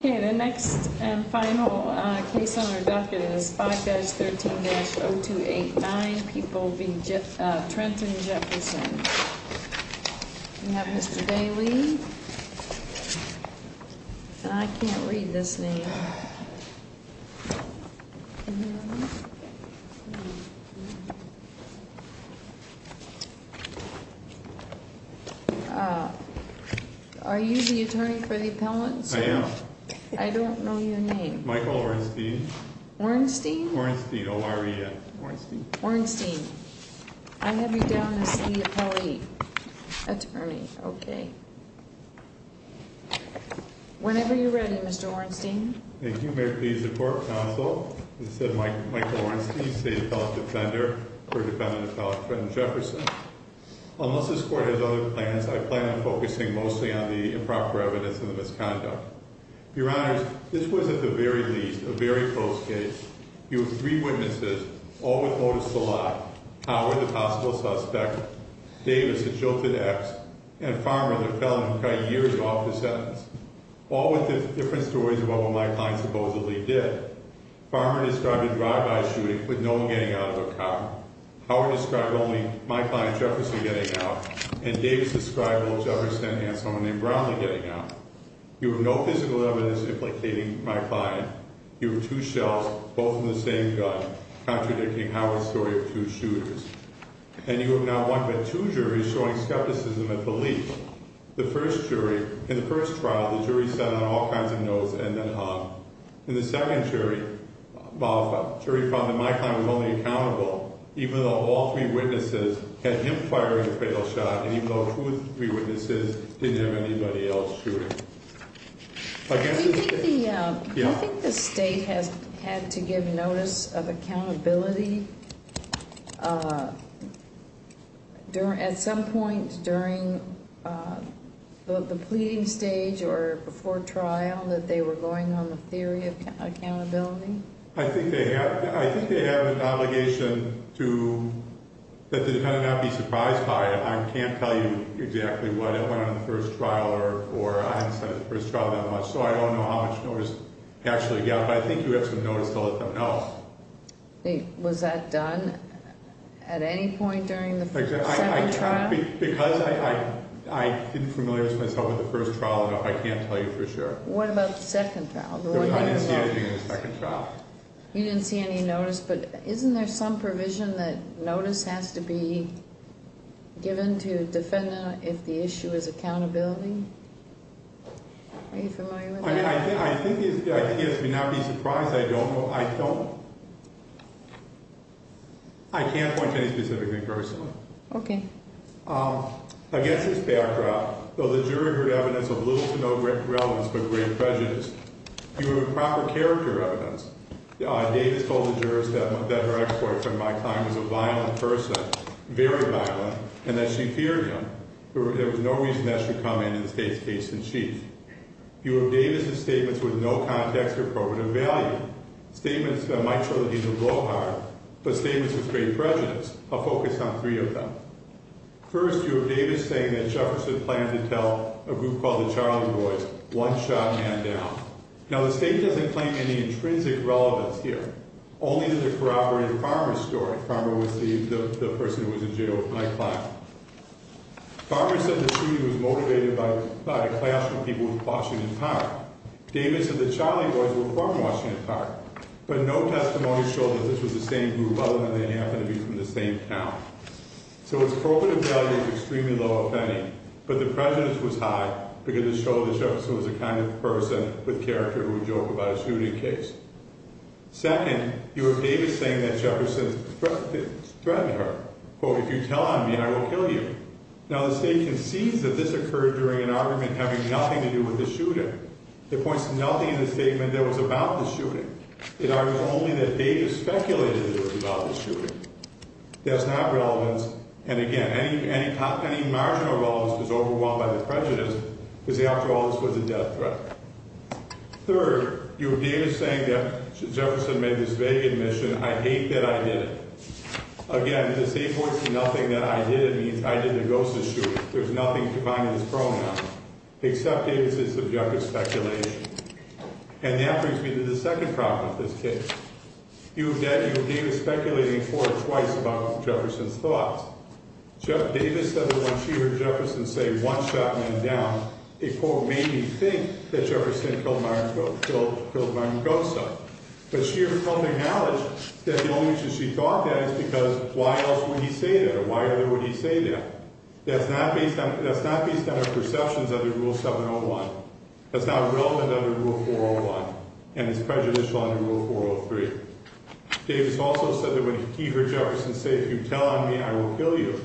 The next and final case on our docket is 5-13-0289, people v. Trenton v. Jefferson. We have Mr. Bailey. I can't read this name. Are you the attorney for the appellants? I am. I don't know your name. Michael Ornstein. Ornstein? Ornstein. O-R-E-N. Ornstein. Ornstein. I have you down as the appellate attorney. Okay. Whenever you're ready, Mr. Ornstein. Thank you. May it please the Court of Counsel? As said, Michael Ornstein, State Appellate Defender for defendant appellant Trenton Jefferson. Unless this Court has other plans, I plan on focusing mostly on the improper evidence and the misconduct. Your Honors, this was, at the very least, a very close case. You have three witnesses, all with motives to lie. Howard, the possible suspect, Davis, the jilted ex, and Farmer, the appellant who got years off his sentence. All with different stories about what my client supposedly did. Farmer described a drive-by shooting with no one getting out of a car. Howard described only my client Jefferson getting out. And Davis described old Jefferson and someone named Brownlee getting out. You have no physical evidence implicating my client. You have two shells, both from the same gun, contradicting Howard's story of two shooters. And you have not one but two juries showing skepticism at the least. The first jury, in the first trial, the jury sat on all kinds of notes and then hung. In the second jury, jury found that my client was only accountable even though all three witnesses had him firing a fatal shot and even though two of the three witnesses didn't have anybody else shooting. I guess the... The pleading stage or before trial that they were going on the theory of accountability? I think they have an obligation to... That the defendant not be surprised by it. I can't tell you exactly what went on in the first trial or I haven't seen the first trial that much, so I don't know how much notice they actually got. But I think you have some notice to let them know. Was that done at any point during the second trial? Second trial? Because I didn't familiarize myself with the first trial, I can't tell you for sure. What about the second trial? I didn't see anything in the second trial. You didn't see any notice, but isn't there some provision that notice has to be given to a defendant if the issue is accountability? Are you familiar with that? I think the idea is to not be surprised. I don't know... I don't... I can't point to any specific thing personally. Okay. Against this backdrop, though the jury heard evidence of little to no relevance but great prejudice, you have a proper character evidence. Davis told the jurors that her ex-boyfriend, Mike Klein, was a violent person, very violent, and that she feared him. There was no reason that should come into the state's case in chief. You have Davis' statements with no context or probative value. Statements that might show that he's a blowhard, but statements with great prejudice. I'll focus on three of them. First, you have Davis saying that Jefferson planned to tell a group called the Charlie Boys, one shot, man down. Now, the state doesn't claim any intrinsic relevance here. Only that it corroborated Farmer's story. Farmer was the person who was in jail with Mike Klein. Farmer said the shooting was motivated by a clash with people from Washington Park. Davis said the Charlie Boys were from Washington Park, but no testimony showed that this was the same group other than they happened to be from the same town. So its probative value is extremely low, if any, but the prejudice was high because it showed that Jefferson was the kind of person with character who would joke about a shooting case. Second, you have Davis saying that Jefferson threatened her. Quote, if you tell on me, I will kill you. Now, the state concedes that this occurred during an argument having nothing to do with the shooting. It points to nothing in the statement that was about the shooting. It argues only that Davis speculated that it was about the shooting. That's not relevance, and again, any marginal relevance was overwhelmed by the prejudice because after all, this was a death threat. Third, you have Davis saying that Jefferson made this vague admission, I hate that I did it. Again, the state points to nothing that I did. It means I did the Gosa shooting. There's nothing to find in this problem now, except Davis' subjective speculation. And that brings me to the second problem with this case. You have Davis speculating for or twice about Jefferson's thoughts. Davis said that when she heard Jefferson say, one shot men down, a quote made me think that Jefferson killed Marvin Gosa, but she had come to acknowledge that the only reason she thought that is because why else would he say that, or why other would he say that? That's not based on her perceptions under Rule 701. That's not relevant under Rule 401, and it's prejudicial under Rule 403. Davis also said that when he heard Jefferson say, if you tell on me, I will kill you,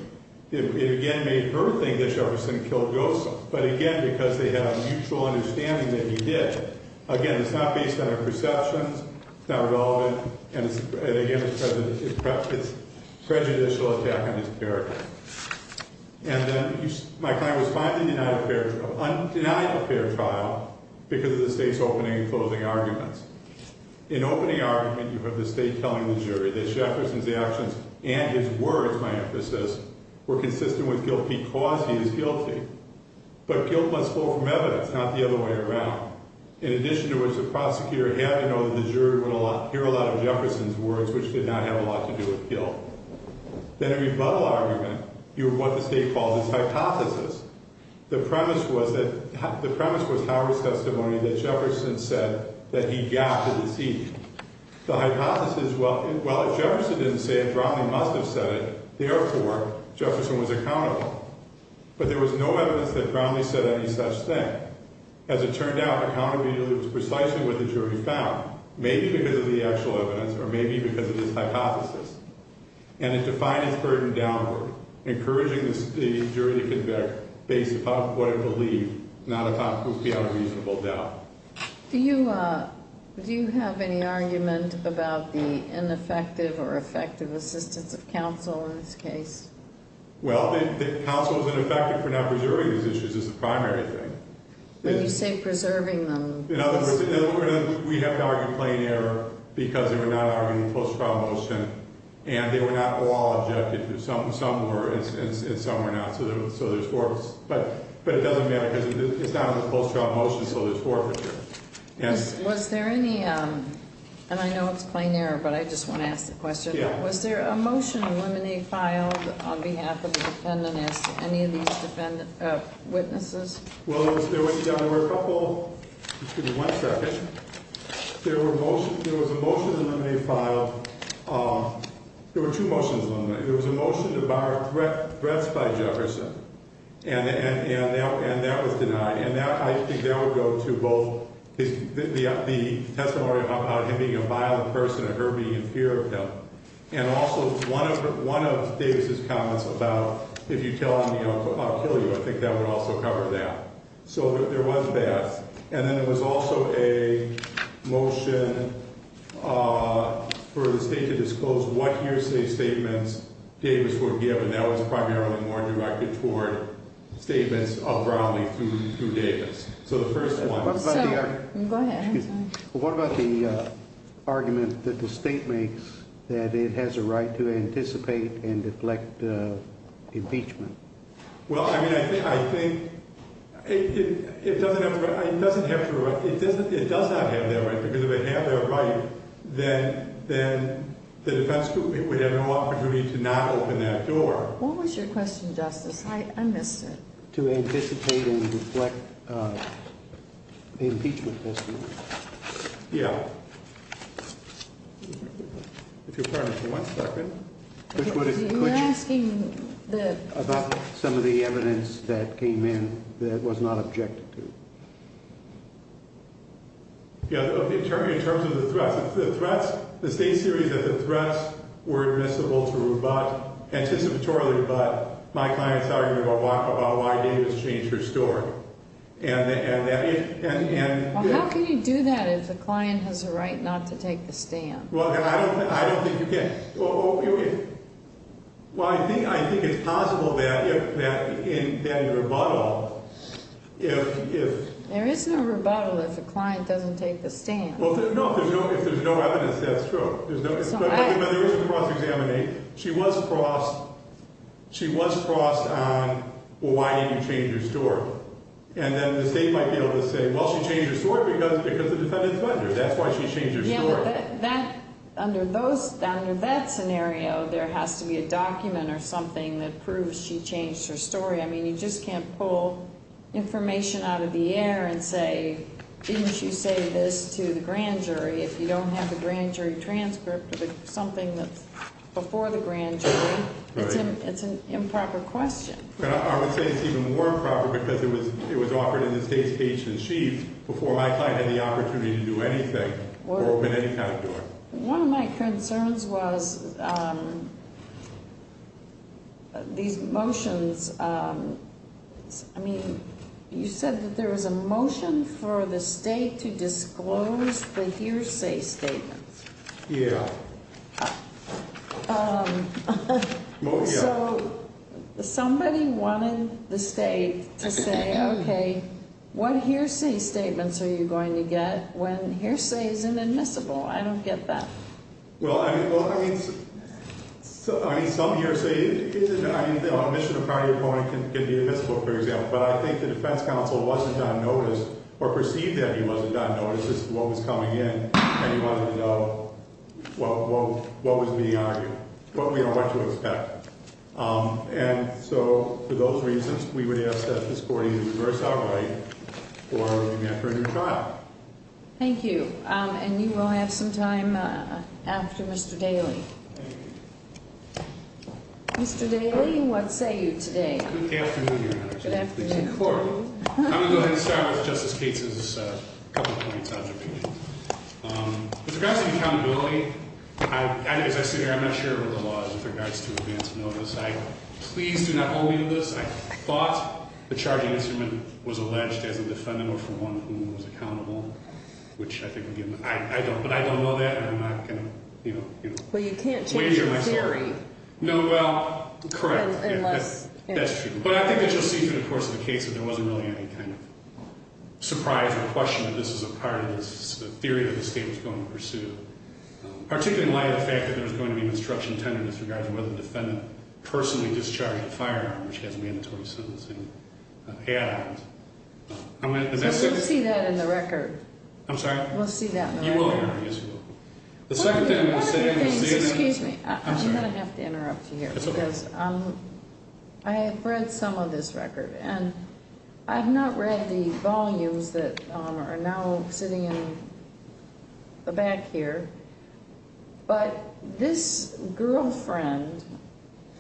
it again made her think that Jefferson killed Gosa, but again, because they had a mutual understanding that he did. Again, it's not based on her perceptions. It's not relevant, and again, it's prejudicial attack on his character. And then my client was finally denied a fair trial because of the state's opening and closing arguments. In opening argument, you have the state telling the jury that Jefferson's actions and his words, my emphasis, were consistent with guilt because he is guilty. But guilt must flow from evidence, not the other way around. In addition to which, the prosecutor had to know that the jury would hear a lot of Jefferson's words, which did not have a lot to do with guilt. Then in rebuttal argument, you have what the state calls its hypothesis. The premise was Howard's testimony that Jefferson said that he got the deceit. The hypothesis, well, if Jefferson didn't say it, Brownlee must have said it. Therefore, Jefferson was accountable. But there was no evidence that Brownlee said any such thing. As it turned out, accountability was precisely what the jury found, maybe because of the actual evidence or maybe because of his hypothesis. And it defined its burden downward, encouraging the jury to convict based upon what it believed, not upon who's beyond a reasonable doubt. Do you have any argument about the ineffective or effective assistance of counsel in this case? Well, the counsel was ineffective for not preserving these issues is the primary thing. When you say preserving them. In other words, we have to argue plain error because they were not arguing post-trial motion and they were not all objective. Some were and some were not, so there's four. But it doesn't matter because it's not a post-trial motion, so there's four for sure. Was there any, and I know it's plain error, but I just want to ask the question. Yeah. Was there a motion to eliminate file on behalf of the defendant as any of these witnesses? Well, there were a couple. Excuse me one second. There was a motion to eliminate file. There were two motions. There was a motion to bar threats by Jefferson, and that was denied. And I think that would go to both the testimony about him being a violent person and her being in fear of him. And also one of Davis' comments about if you tell on me, I'll kill you. I think that would also cover that. So there was that. And then there was also a motion for the state to disclose what hearsay statements Davis would give, and that was primarily more directed toward statements of Brownlee to Davis. So the first one. Go ahead. What about the argument that the state makes that it has a right to anticipate and deflect impeachment? Well, I mean, I think it doesn't have that right because if it had that right, then the defense would have no opportunity to not open that door. What was your question, Justice? I missed it. To anticipate and deflect impeachment testimony. Yeah. If you'll pardon me for one second. Are you asking about some of the evidence that came in that was not objected to? Yeah, in terms of the threats. The state's theory is that the threats were admissible to rebut, anticipatorily rebut, my client's argument about why Davis changed her story. Well, how can you do that if the client has a right not to take the stand? Well, I don't think you can. Well, I think it's possible that in rebuttal, if... There is no rebuttal if the client doesn't take the stand. Well, no, if there's no evidence, that's true. But when there is a cross-examination, she was crossed on, well, why didn't you change your story? And then the state might be able to say, well, she changed her story because of the defendant's measure. That's why she changed her story. Under that scenario, there has to be a document or something that proves she changed her story. I mean, you just can't pull information out of the air and say, didn't you say this to the grand jury? If you don't have the grand jury transcript or something that's before the grand jury, it's an improper question. But I would say it's even more improper because it was offered in the state's case in chief before my client had the opportunity to do anything or open any kind of door. One of my concerns was these motions. I mean, you said that there was a motion for the state to disclose the hearsay statements. Yeah. So somebody wanted the state to say, okay, what hearsay statements are you going to get when hearsay is inadmissible? I don't get that. Well, I mean, some hearsay, I mean, the omission of prior warning can be admissible, for example. But I think the defense counsel wasn't on notice or perceived that he wasn't on notice as to what was coming in. And he wanted to know what was being argued, what we are going to expect. And so for those reasons, we would ask that this court either reverse our right or give me after a new trial. Thank you. And you will have some time after Mr. Daly. Thank you. Mr. Daly, what say you today? Good afternoon, Your Honor. Good afternoon. Thank you. I'm going to go ahead and start with Justice Katz's couple of points of objection. With regards to accountability, as I sit here, I'm not sure of the laws with regards to advance notice. I please do not hold me to this. I thought the charging instrument was alleged as a defendant or from one who was accountable, which I think would give me – I don't, but I don't know that, and I'm not going to, you know – Well, you can't change your theory. No, well, correct. Unless – That's true. But I think that you'll see through the course of the case that there wasn't really any kind of surprise or question that this was a part of this theory that the state was going to pursue, particularly in light of the fact that there was going to be an instruction tendered as regards to whether the defendant personally discharged a firearm, which has mandatory sentencing add-ons. I'm going to – We'll see that in the record. I'm sorry? We'll see that in the record. You will, Your Honor. Yes, we will. The second thing I'm going to say – One of the things – excuse me. I'm sorry. I'm going to have to interrupt you here because I have read some of this record, and I have not read the volumes that are now sitting in the back here, but this girlfriend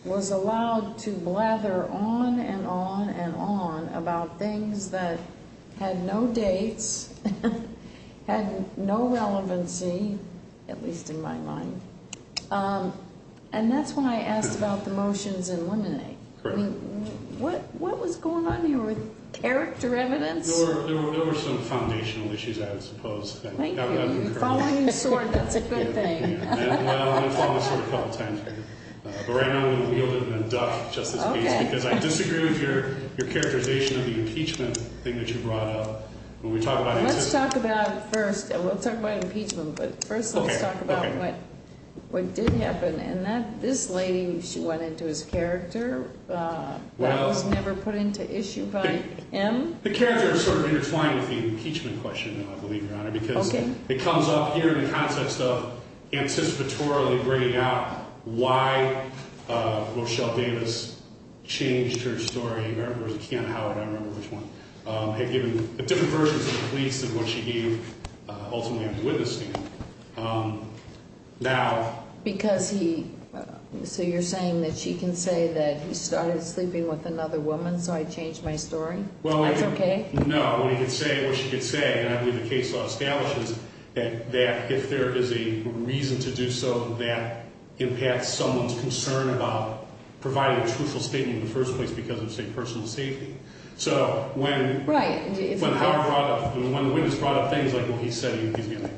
was allowed to blather on and on and on about things that had no dates, had no relevancy, at least in my mind, and that's when I asked about the motions in Lemonade. Correct. What was going on here with character evidence? There were some foundational issues, I would suppose. Thank you. You're following your sword. That's a good thing. Well, I'm following my sword a couple of times here. But right now I'm going to wield it in a duff, just in case, because I disagree with your characterization of the impeachment thing that you brought up. When we talk about – Let's talk about first – we'll talk about impeachment, but first let's talk about what did happen. And this lady, she went into his character. That was never put into issue by him? The characters are sort of intertwined with the impeachment question, I believe, Your Honor, because it comes up here in the context of anticipatorily bringing out why Rochelle Davis changed her story. I can't remember which one. A different version of what she gave ultimately on the witness stand. Now – Because he – so you're saying that she can say that he started sleeping with another woman so I changed my story? That's okay? No. What he could say, what she could say, and I believe the case law establishes that if there is a reason to do so, that impacts someone's concern about providing a truthful statement in the first place because of, say, personal safety. So when – Right. When the witness brought up things like, well, he said he's going to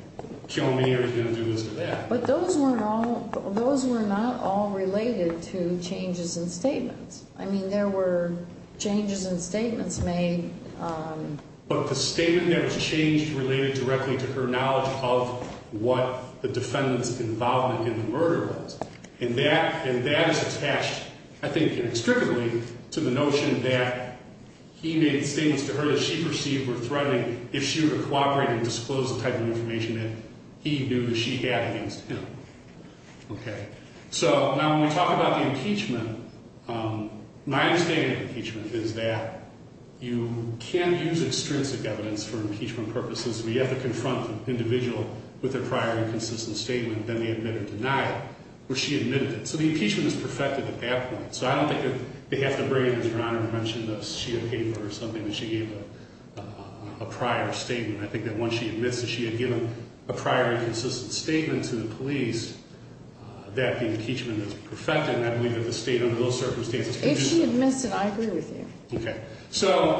kill me or he's going to do this or that. But those weren't all – those were not all related to changes in statements. I mean, there were changes in statements made. But the statement that was changed related directly to her knowledge of what the defendant's involvement in the murder was. And that is attached, I think, inextricably to the notion that he made statements to her that she perceived were threatening if she were to cooperate and disclose the type of information that he knew that she had against him. Okay. So now when we talk about the impeachment, my understanding of impeachment is that you can use extrinsic evidence for impeachment purposes where you have to confront the individual with their prior inconsistent statement, then they admit or deny it, where she admitted it. So the impeachment is perfected at that point. So I don't think that they have to bring in, as Your Honor mentioned, a sheet of paper or something that she gave a prior statement. I think that once she admits that she had given a prior inconsistent statement to the police, that the impeachment is perfected. And I believe that the State, under those circumstances, can use that. If she admits it, I agree with you. Okay. So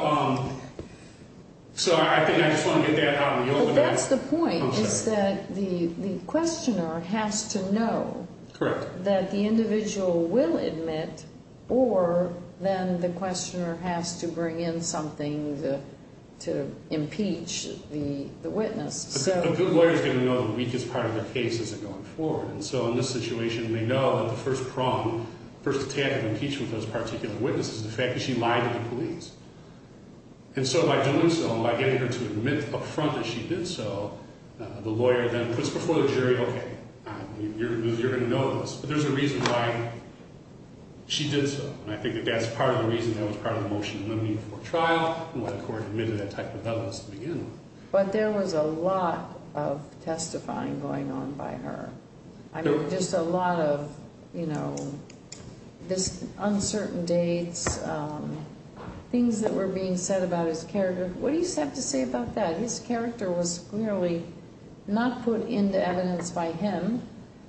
I think I just want to get that out in the open. Well, that's the point, is that the questioner has to know that the individual will admit or then the questioner has to bring in something to impeach the witness. A good lawyer is going to know the weakest part of the case as they're going forward. And so in this situation, we know that the first problem, first attack of impeachment for this particular witness is the fact that she lied to the police. And so by doing so and by getting her to admit up front that she did so, the lawyer then puts before the jury, okay, you're going to know this, but there's a reason why she did so. And I think that that's part of the reason that was part of the motion to eliminate her for trial and why the court admitted that type of evidence to begin with. But there was a lot of testifying going on by her. I mean, just a lot of, you know, this uncertain dates, things that were being said about his character. What do you have to say about that? His character was clearly not put into evidence by him.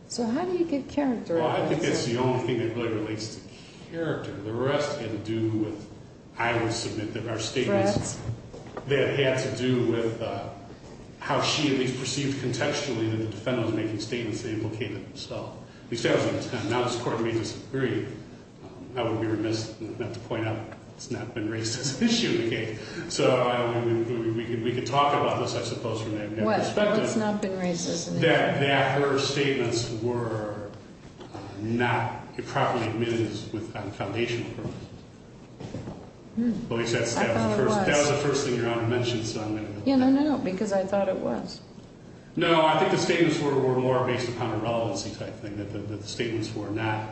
So how do you get character? Well, I think that's the only thing that really relates to character. The rest had to do with, I would submit, there are statements that had to do with how she at least perceived contextually that the defendant was making statements that implicated herself. Now this court made this very, I would be remiss not to point out, it's not been raised as an issue in the case. So we could talk about this, I suppose, from that perspective. What? Well, it's not been raised as an issue. That her statements were not properly admitted on a foundational purpose. At least that was the first thing your Honor mentioned. Yeah, no, no, no, because I thought it was. No, I think the statements were more based upon a relevancy type thing, that the statements were not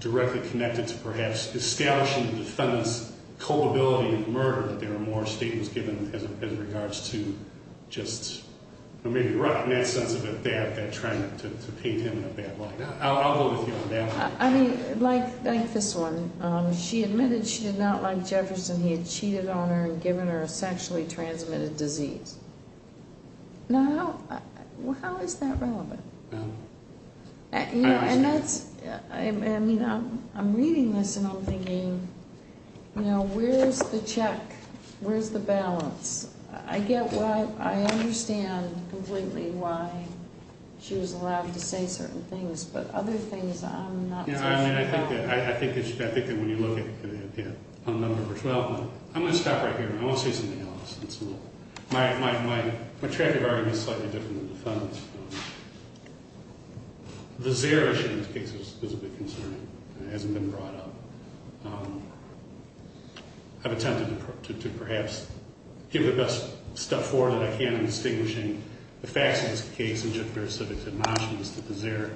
directly connected to perhaps establishing the defendant's culpability of murder. There were more statements given as regards to just, maybe in that sense of a dab, to paint him in a bad light. I'll go with you on that one. I mean, like this one. She admitted she did not like Jefferson. He had cheated on her and given her a sexually transmitted disease. Now, how is that relevant? You know, and that's, I mean, I'm reading this and I'm thinking, you know, where's the check? Where's the balance? I get why, I understand completely why she was allowed to say certain things, but other things I'm not so sure. Yeah, I mean, I think that when you look at it, yeah, on number 12, I'm going to stop right here. I want to say something else. My track record is slightly different than the defendant's. The Zaire issue in this case is a big concern. It hasn't been brought up. I've attempted to perhaps give the best step forward that I can in distinguishing the facts of this case and just their civics admonitions to the Zaire.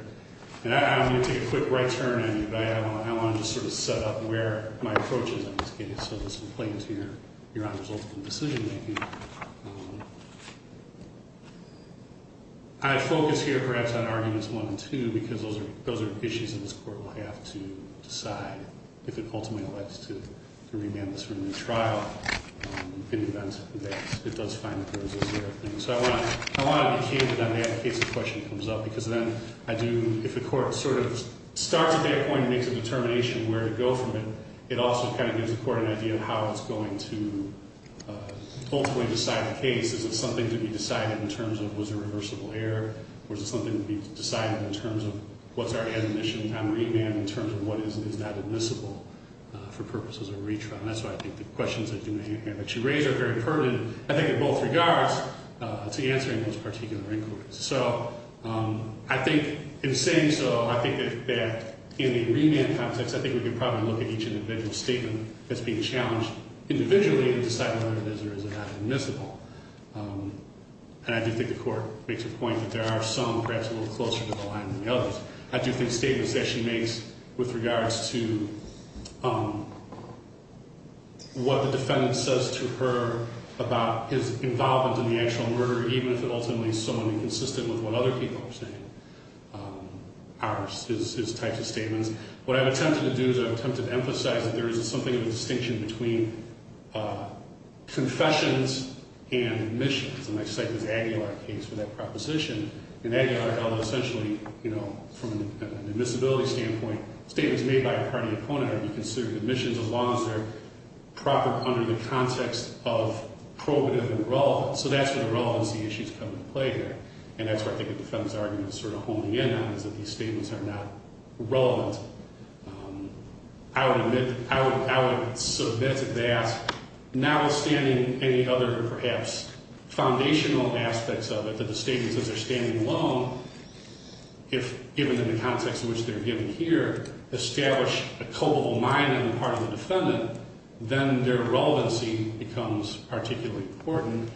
And I'm going to take a quick right turn on you, but I want to just sort of set up where my approach is on this case. So this will play into your Honor's ultimate decision making. I focus here perhaps on Arguments 1 and 2 because those are issues that this Court will have to decide if it ultimately elects to remand this for a new trial, in the event that it does find that there was a Zaire thing. So I want to be keen that that case in question comes up because then I do, if the Court sort of starts at that point and makes a determination where to go from it, it also kind of gives the Court an idea of how it's going to ultimately decide the case. Is it something to be decided in terms of was there a reversible error? Or is it something to be decided in terms of what's our admonition on remand in terms of what is not admissible for purposes of retrial? And that's why I think the questions that you raise are very pertinent, I think, in both regards to answering those particular inquiries. So I think in saying so, I think that in the remand context, I think we can probably look at each individual statement that's being challenged individually and decide whether it is or is not admissible. And I do think the Court makes a point that there are some perhaps a little closer to the line than the others. I do think statements that she makes with regards to what the defendant says to her about his involvement in the actual murder, even if it ultimately is someone inconsistent with what other people are saying, his types of statements. What I've attempted to do is I've attempted to emphasize that there is something of a distinction between confessions and admissions. And I cite this Aguilar case for that proposition. In Aguilar, essentially, you know, from an admissibility standpoint, statements made by a party opponent are considered admissions as long as they're proper under the context of probative and relevant. So that's where the relevancy issues come into play there. And that's where I think the defendant's argument is sort of honing in on is that these statements are not relevant. I would submit to that, notwithstanding any other perhaps foundational aspects of it, that the statement says they're standing alone, if given in the context in which they're given here, establish a culpable mind on the part of the defendant, then their relevancy becomes particularly important.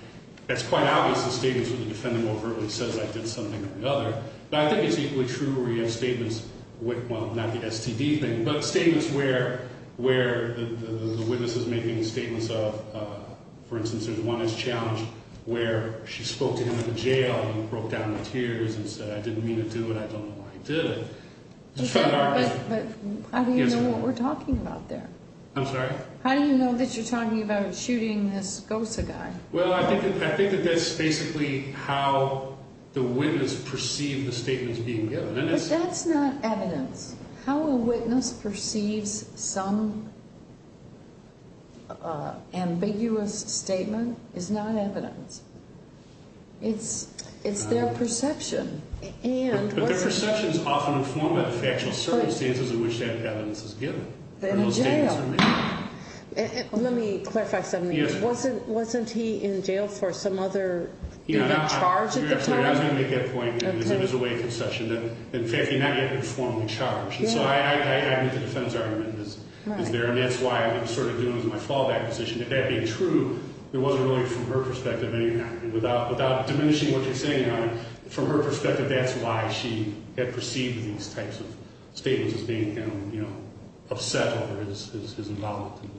It's quite obvious the statement for the defendant overtly says I did something or the other. But I think it's equally true where you have statements with, well, not the STD thing, but statements where the witness is making statements of, for instance, there's one that's challenged where she spoke to him at the jail and broke down in tears and said, I didn't mean to do it. I don't know why I did it. But how do you know what we're talking about there? I'm sorry? How do you know that you're talking about shooting this GOSA guy? Well, I think that that's basically how the witness perceived the statements being given. But that's not evidence. How a witness perceives some ambiguous statement is not evidence. It's their perception. But their perception is often informed by the factual circumstances in which that evidence is given. They're in jail. Let me clarify something. Wasn't he in jail for some other charge at the time? I was going to make that point. It was a way of conception. In fact, he had not yet been formally charged. And so I think the defense argument is there. And that's why I'm sort of doing this in my fallback position. If that being true, it wasn't really from her perspective anyhow. Without diminishing what you're saying, from her perspective, that's why she had perceived these types of statements as being kind of, you know, upset over his involvement in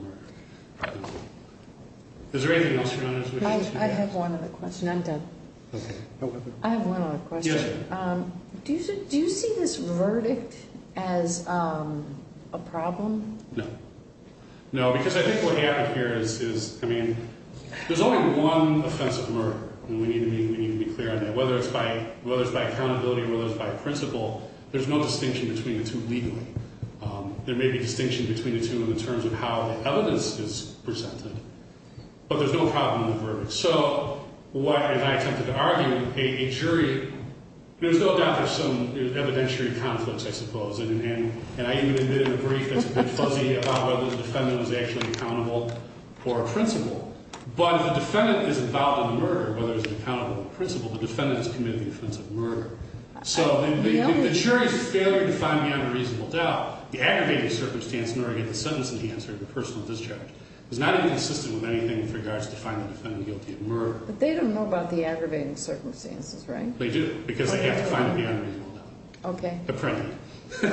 the murder. Is there anything else your Honor? I have one other question. I'm done. Okay. I have one other question. Yes. Do you see this verdict as a problem? No. No, because I think what happened here is, I mean, there's only one offense of murder. And we need to be clear on that. Whether it's by accountability or whether it's by principle, there's no distinction between the two legally. There may be a distinction between the two in terms of how the evidence is presented. But there's no problem in the verdict. So, as I attempted to argue, a jury, there's no doubt there's some evidentiary conflicts, I suppose. And I even admitted in a brief that's a bit fuzzy about whether the defendant was actually accountable or principled. But if the defendant is involved in the murder, whether it's accountable or principled, the defendant has committed the offense of murder. So the jury's failure to find the unreasonable doubt, the aggravating circumstance in order to get the sentence in the answer of the person with this charge, is not inconsistent with anything with regards to finding the defendant guilty of murder. But they don't know about the aggravating circumstances, right? They do, because they have to find the unreasonable doubt. Okay. But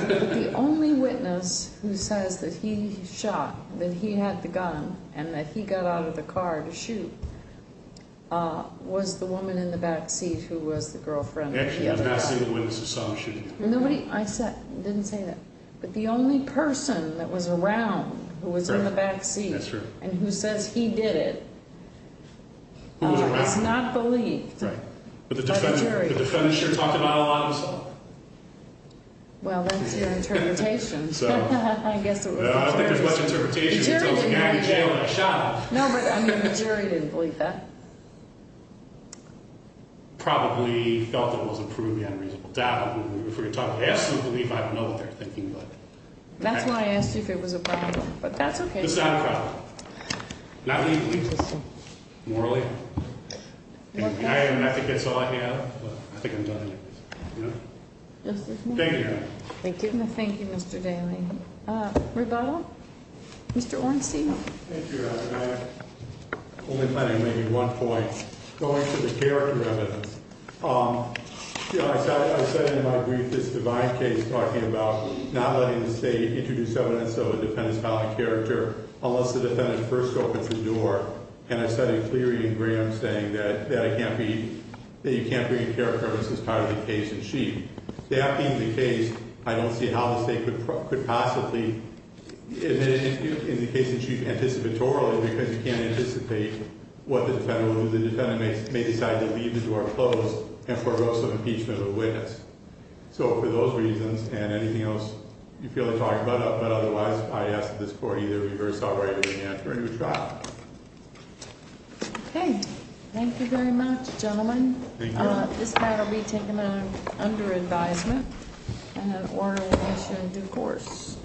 the only witness who says that he shot, that he had the gun, and that he got out of the car to shoot, was the woman in the back seat who was the girlfriend of the other guy. Actually, I'm not saying the witness saw him shooting. I didn't say that. But the only person that was around, who was in the back seat, and who says he did it, is not believed by the jury. The defendant sure talked about it a lot himself. Well, that's your interpretation. I guess it was. I don't think there's much interpretation until it's a guy in jail and I shot him. No, but I mean, the jury didn't believe that. Probably felt it was a proven unreasonable doubt. I mean, if we're talking absolute belief, I don't know what they're thinking. That's why I asked you if it was a problem. But that's okay. It's not a problem. Not legally. Morally. I think that's all I have. I think I'm done. Thank you, Your Honor. Thank you, Mr. Daly. Rebuttal? Mr. Ornstein. Thank you, Your Honor. I'm only planning maybe one point. Going to the character evidence. I said in my brief, this divine case talking about not letting the state introduce evidence of a defendant's valid character unless the defendant first opens the door. And I said it clearly in Graham's saying that you can't bring a character evidence as part of the case in chief. That being the case, I don't see how the state could possibly, in the case in chief, anticipatorily because you can't anticipate what the defendant will do. The defendant may decide to leave the door closed and forego some impeachment of the witness. So for those reasons and anything else you feel like talking about, but otherwise, I ask that this court either reverse all right or bring it back to a new trial. Okay. Thank you very much, gentlemen. Thank you, Your Honor. This matter will be taken under advisement and an order will issue in due course.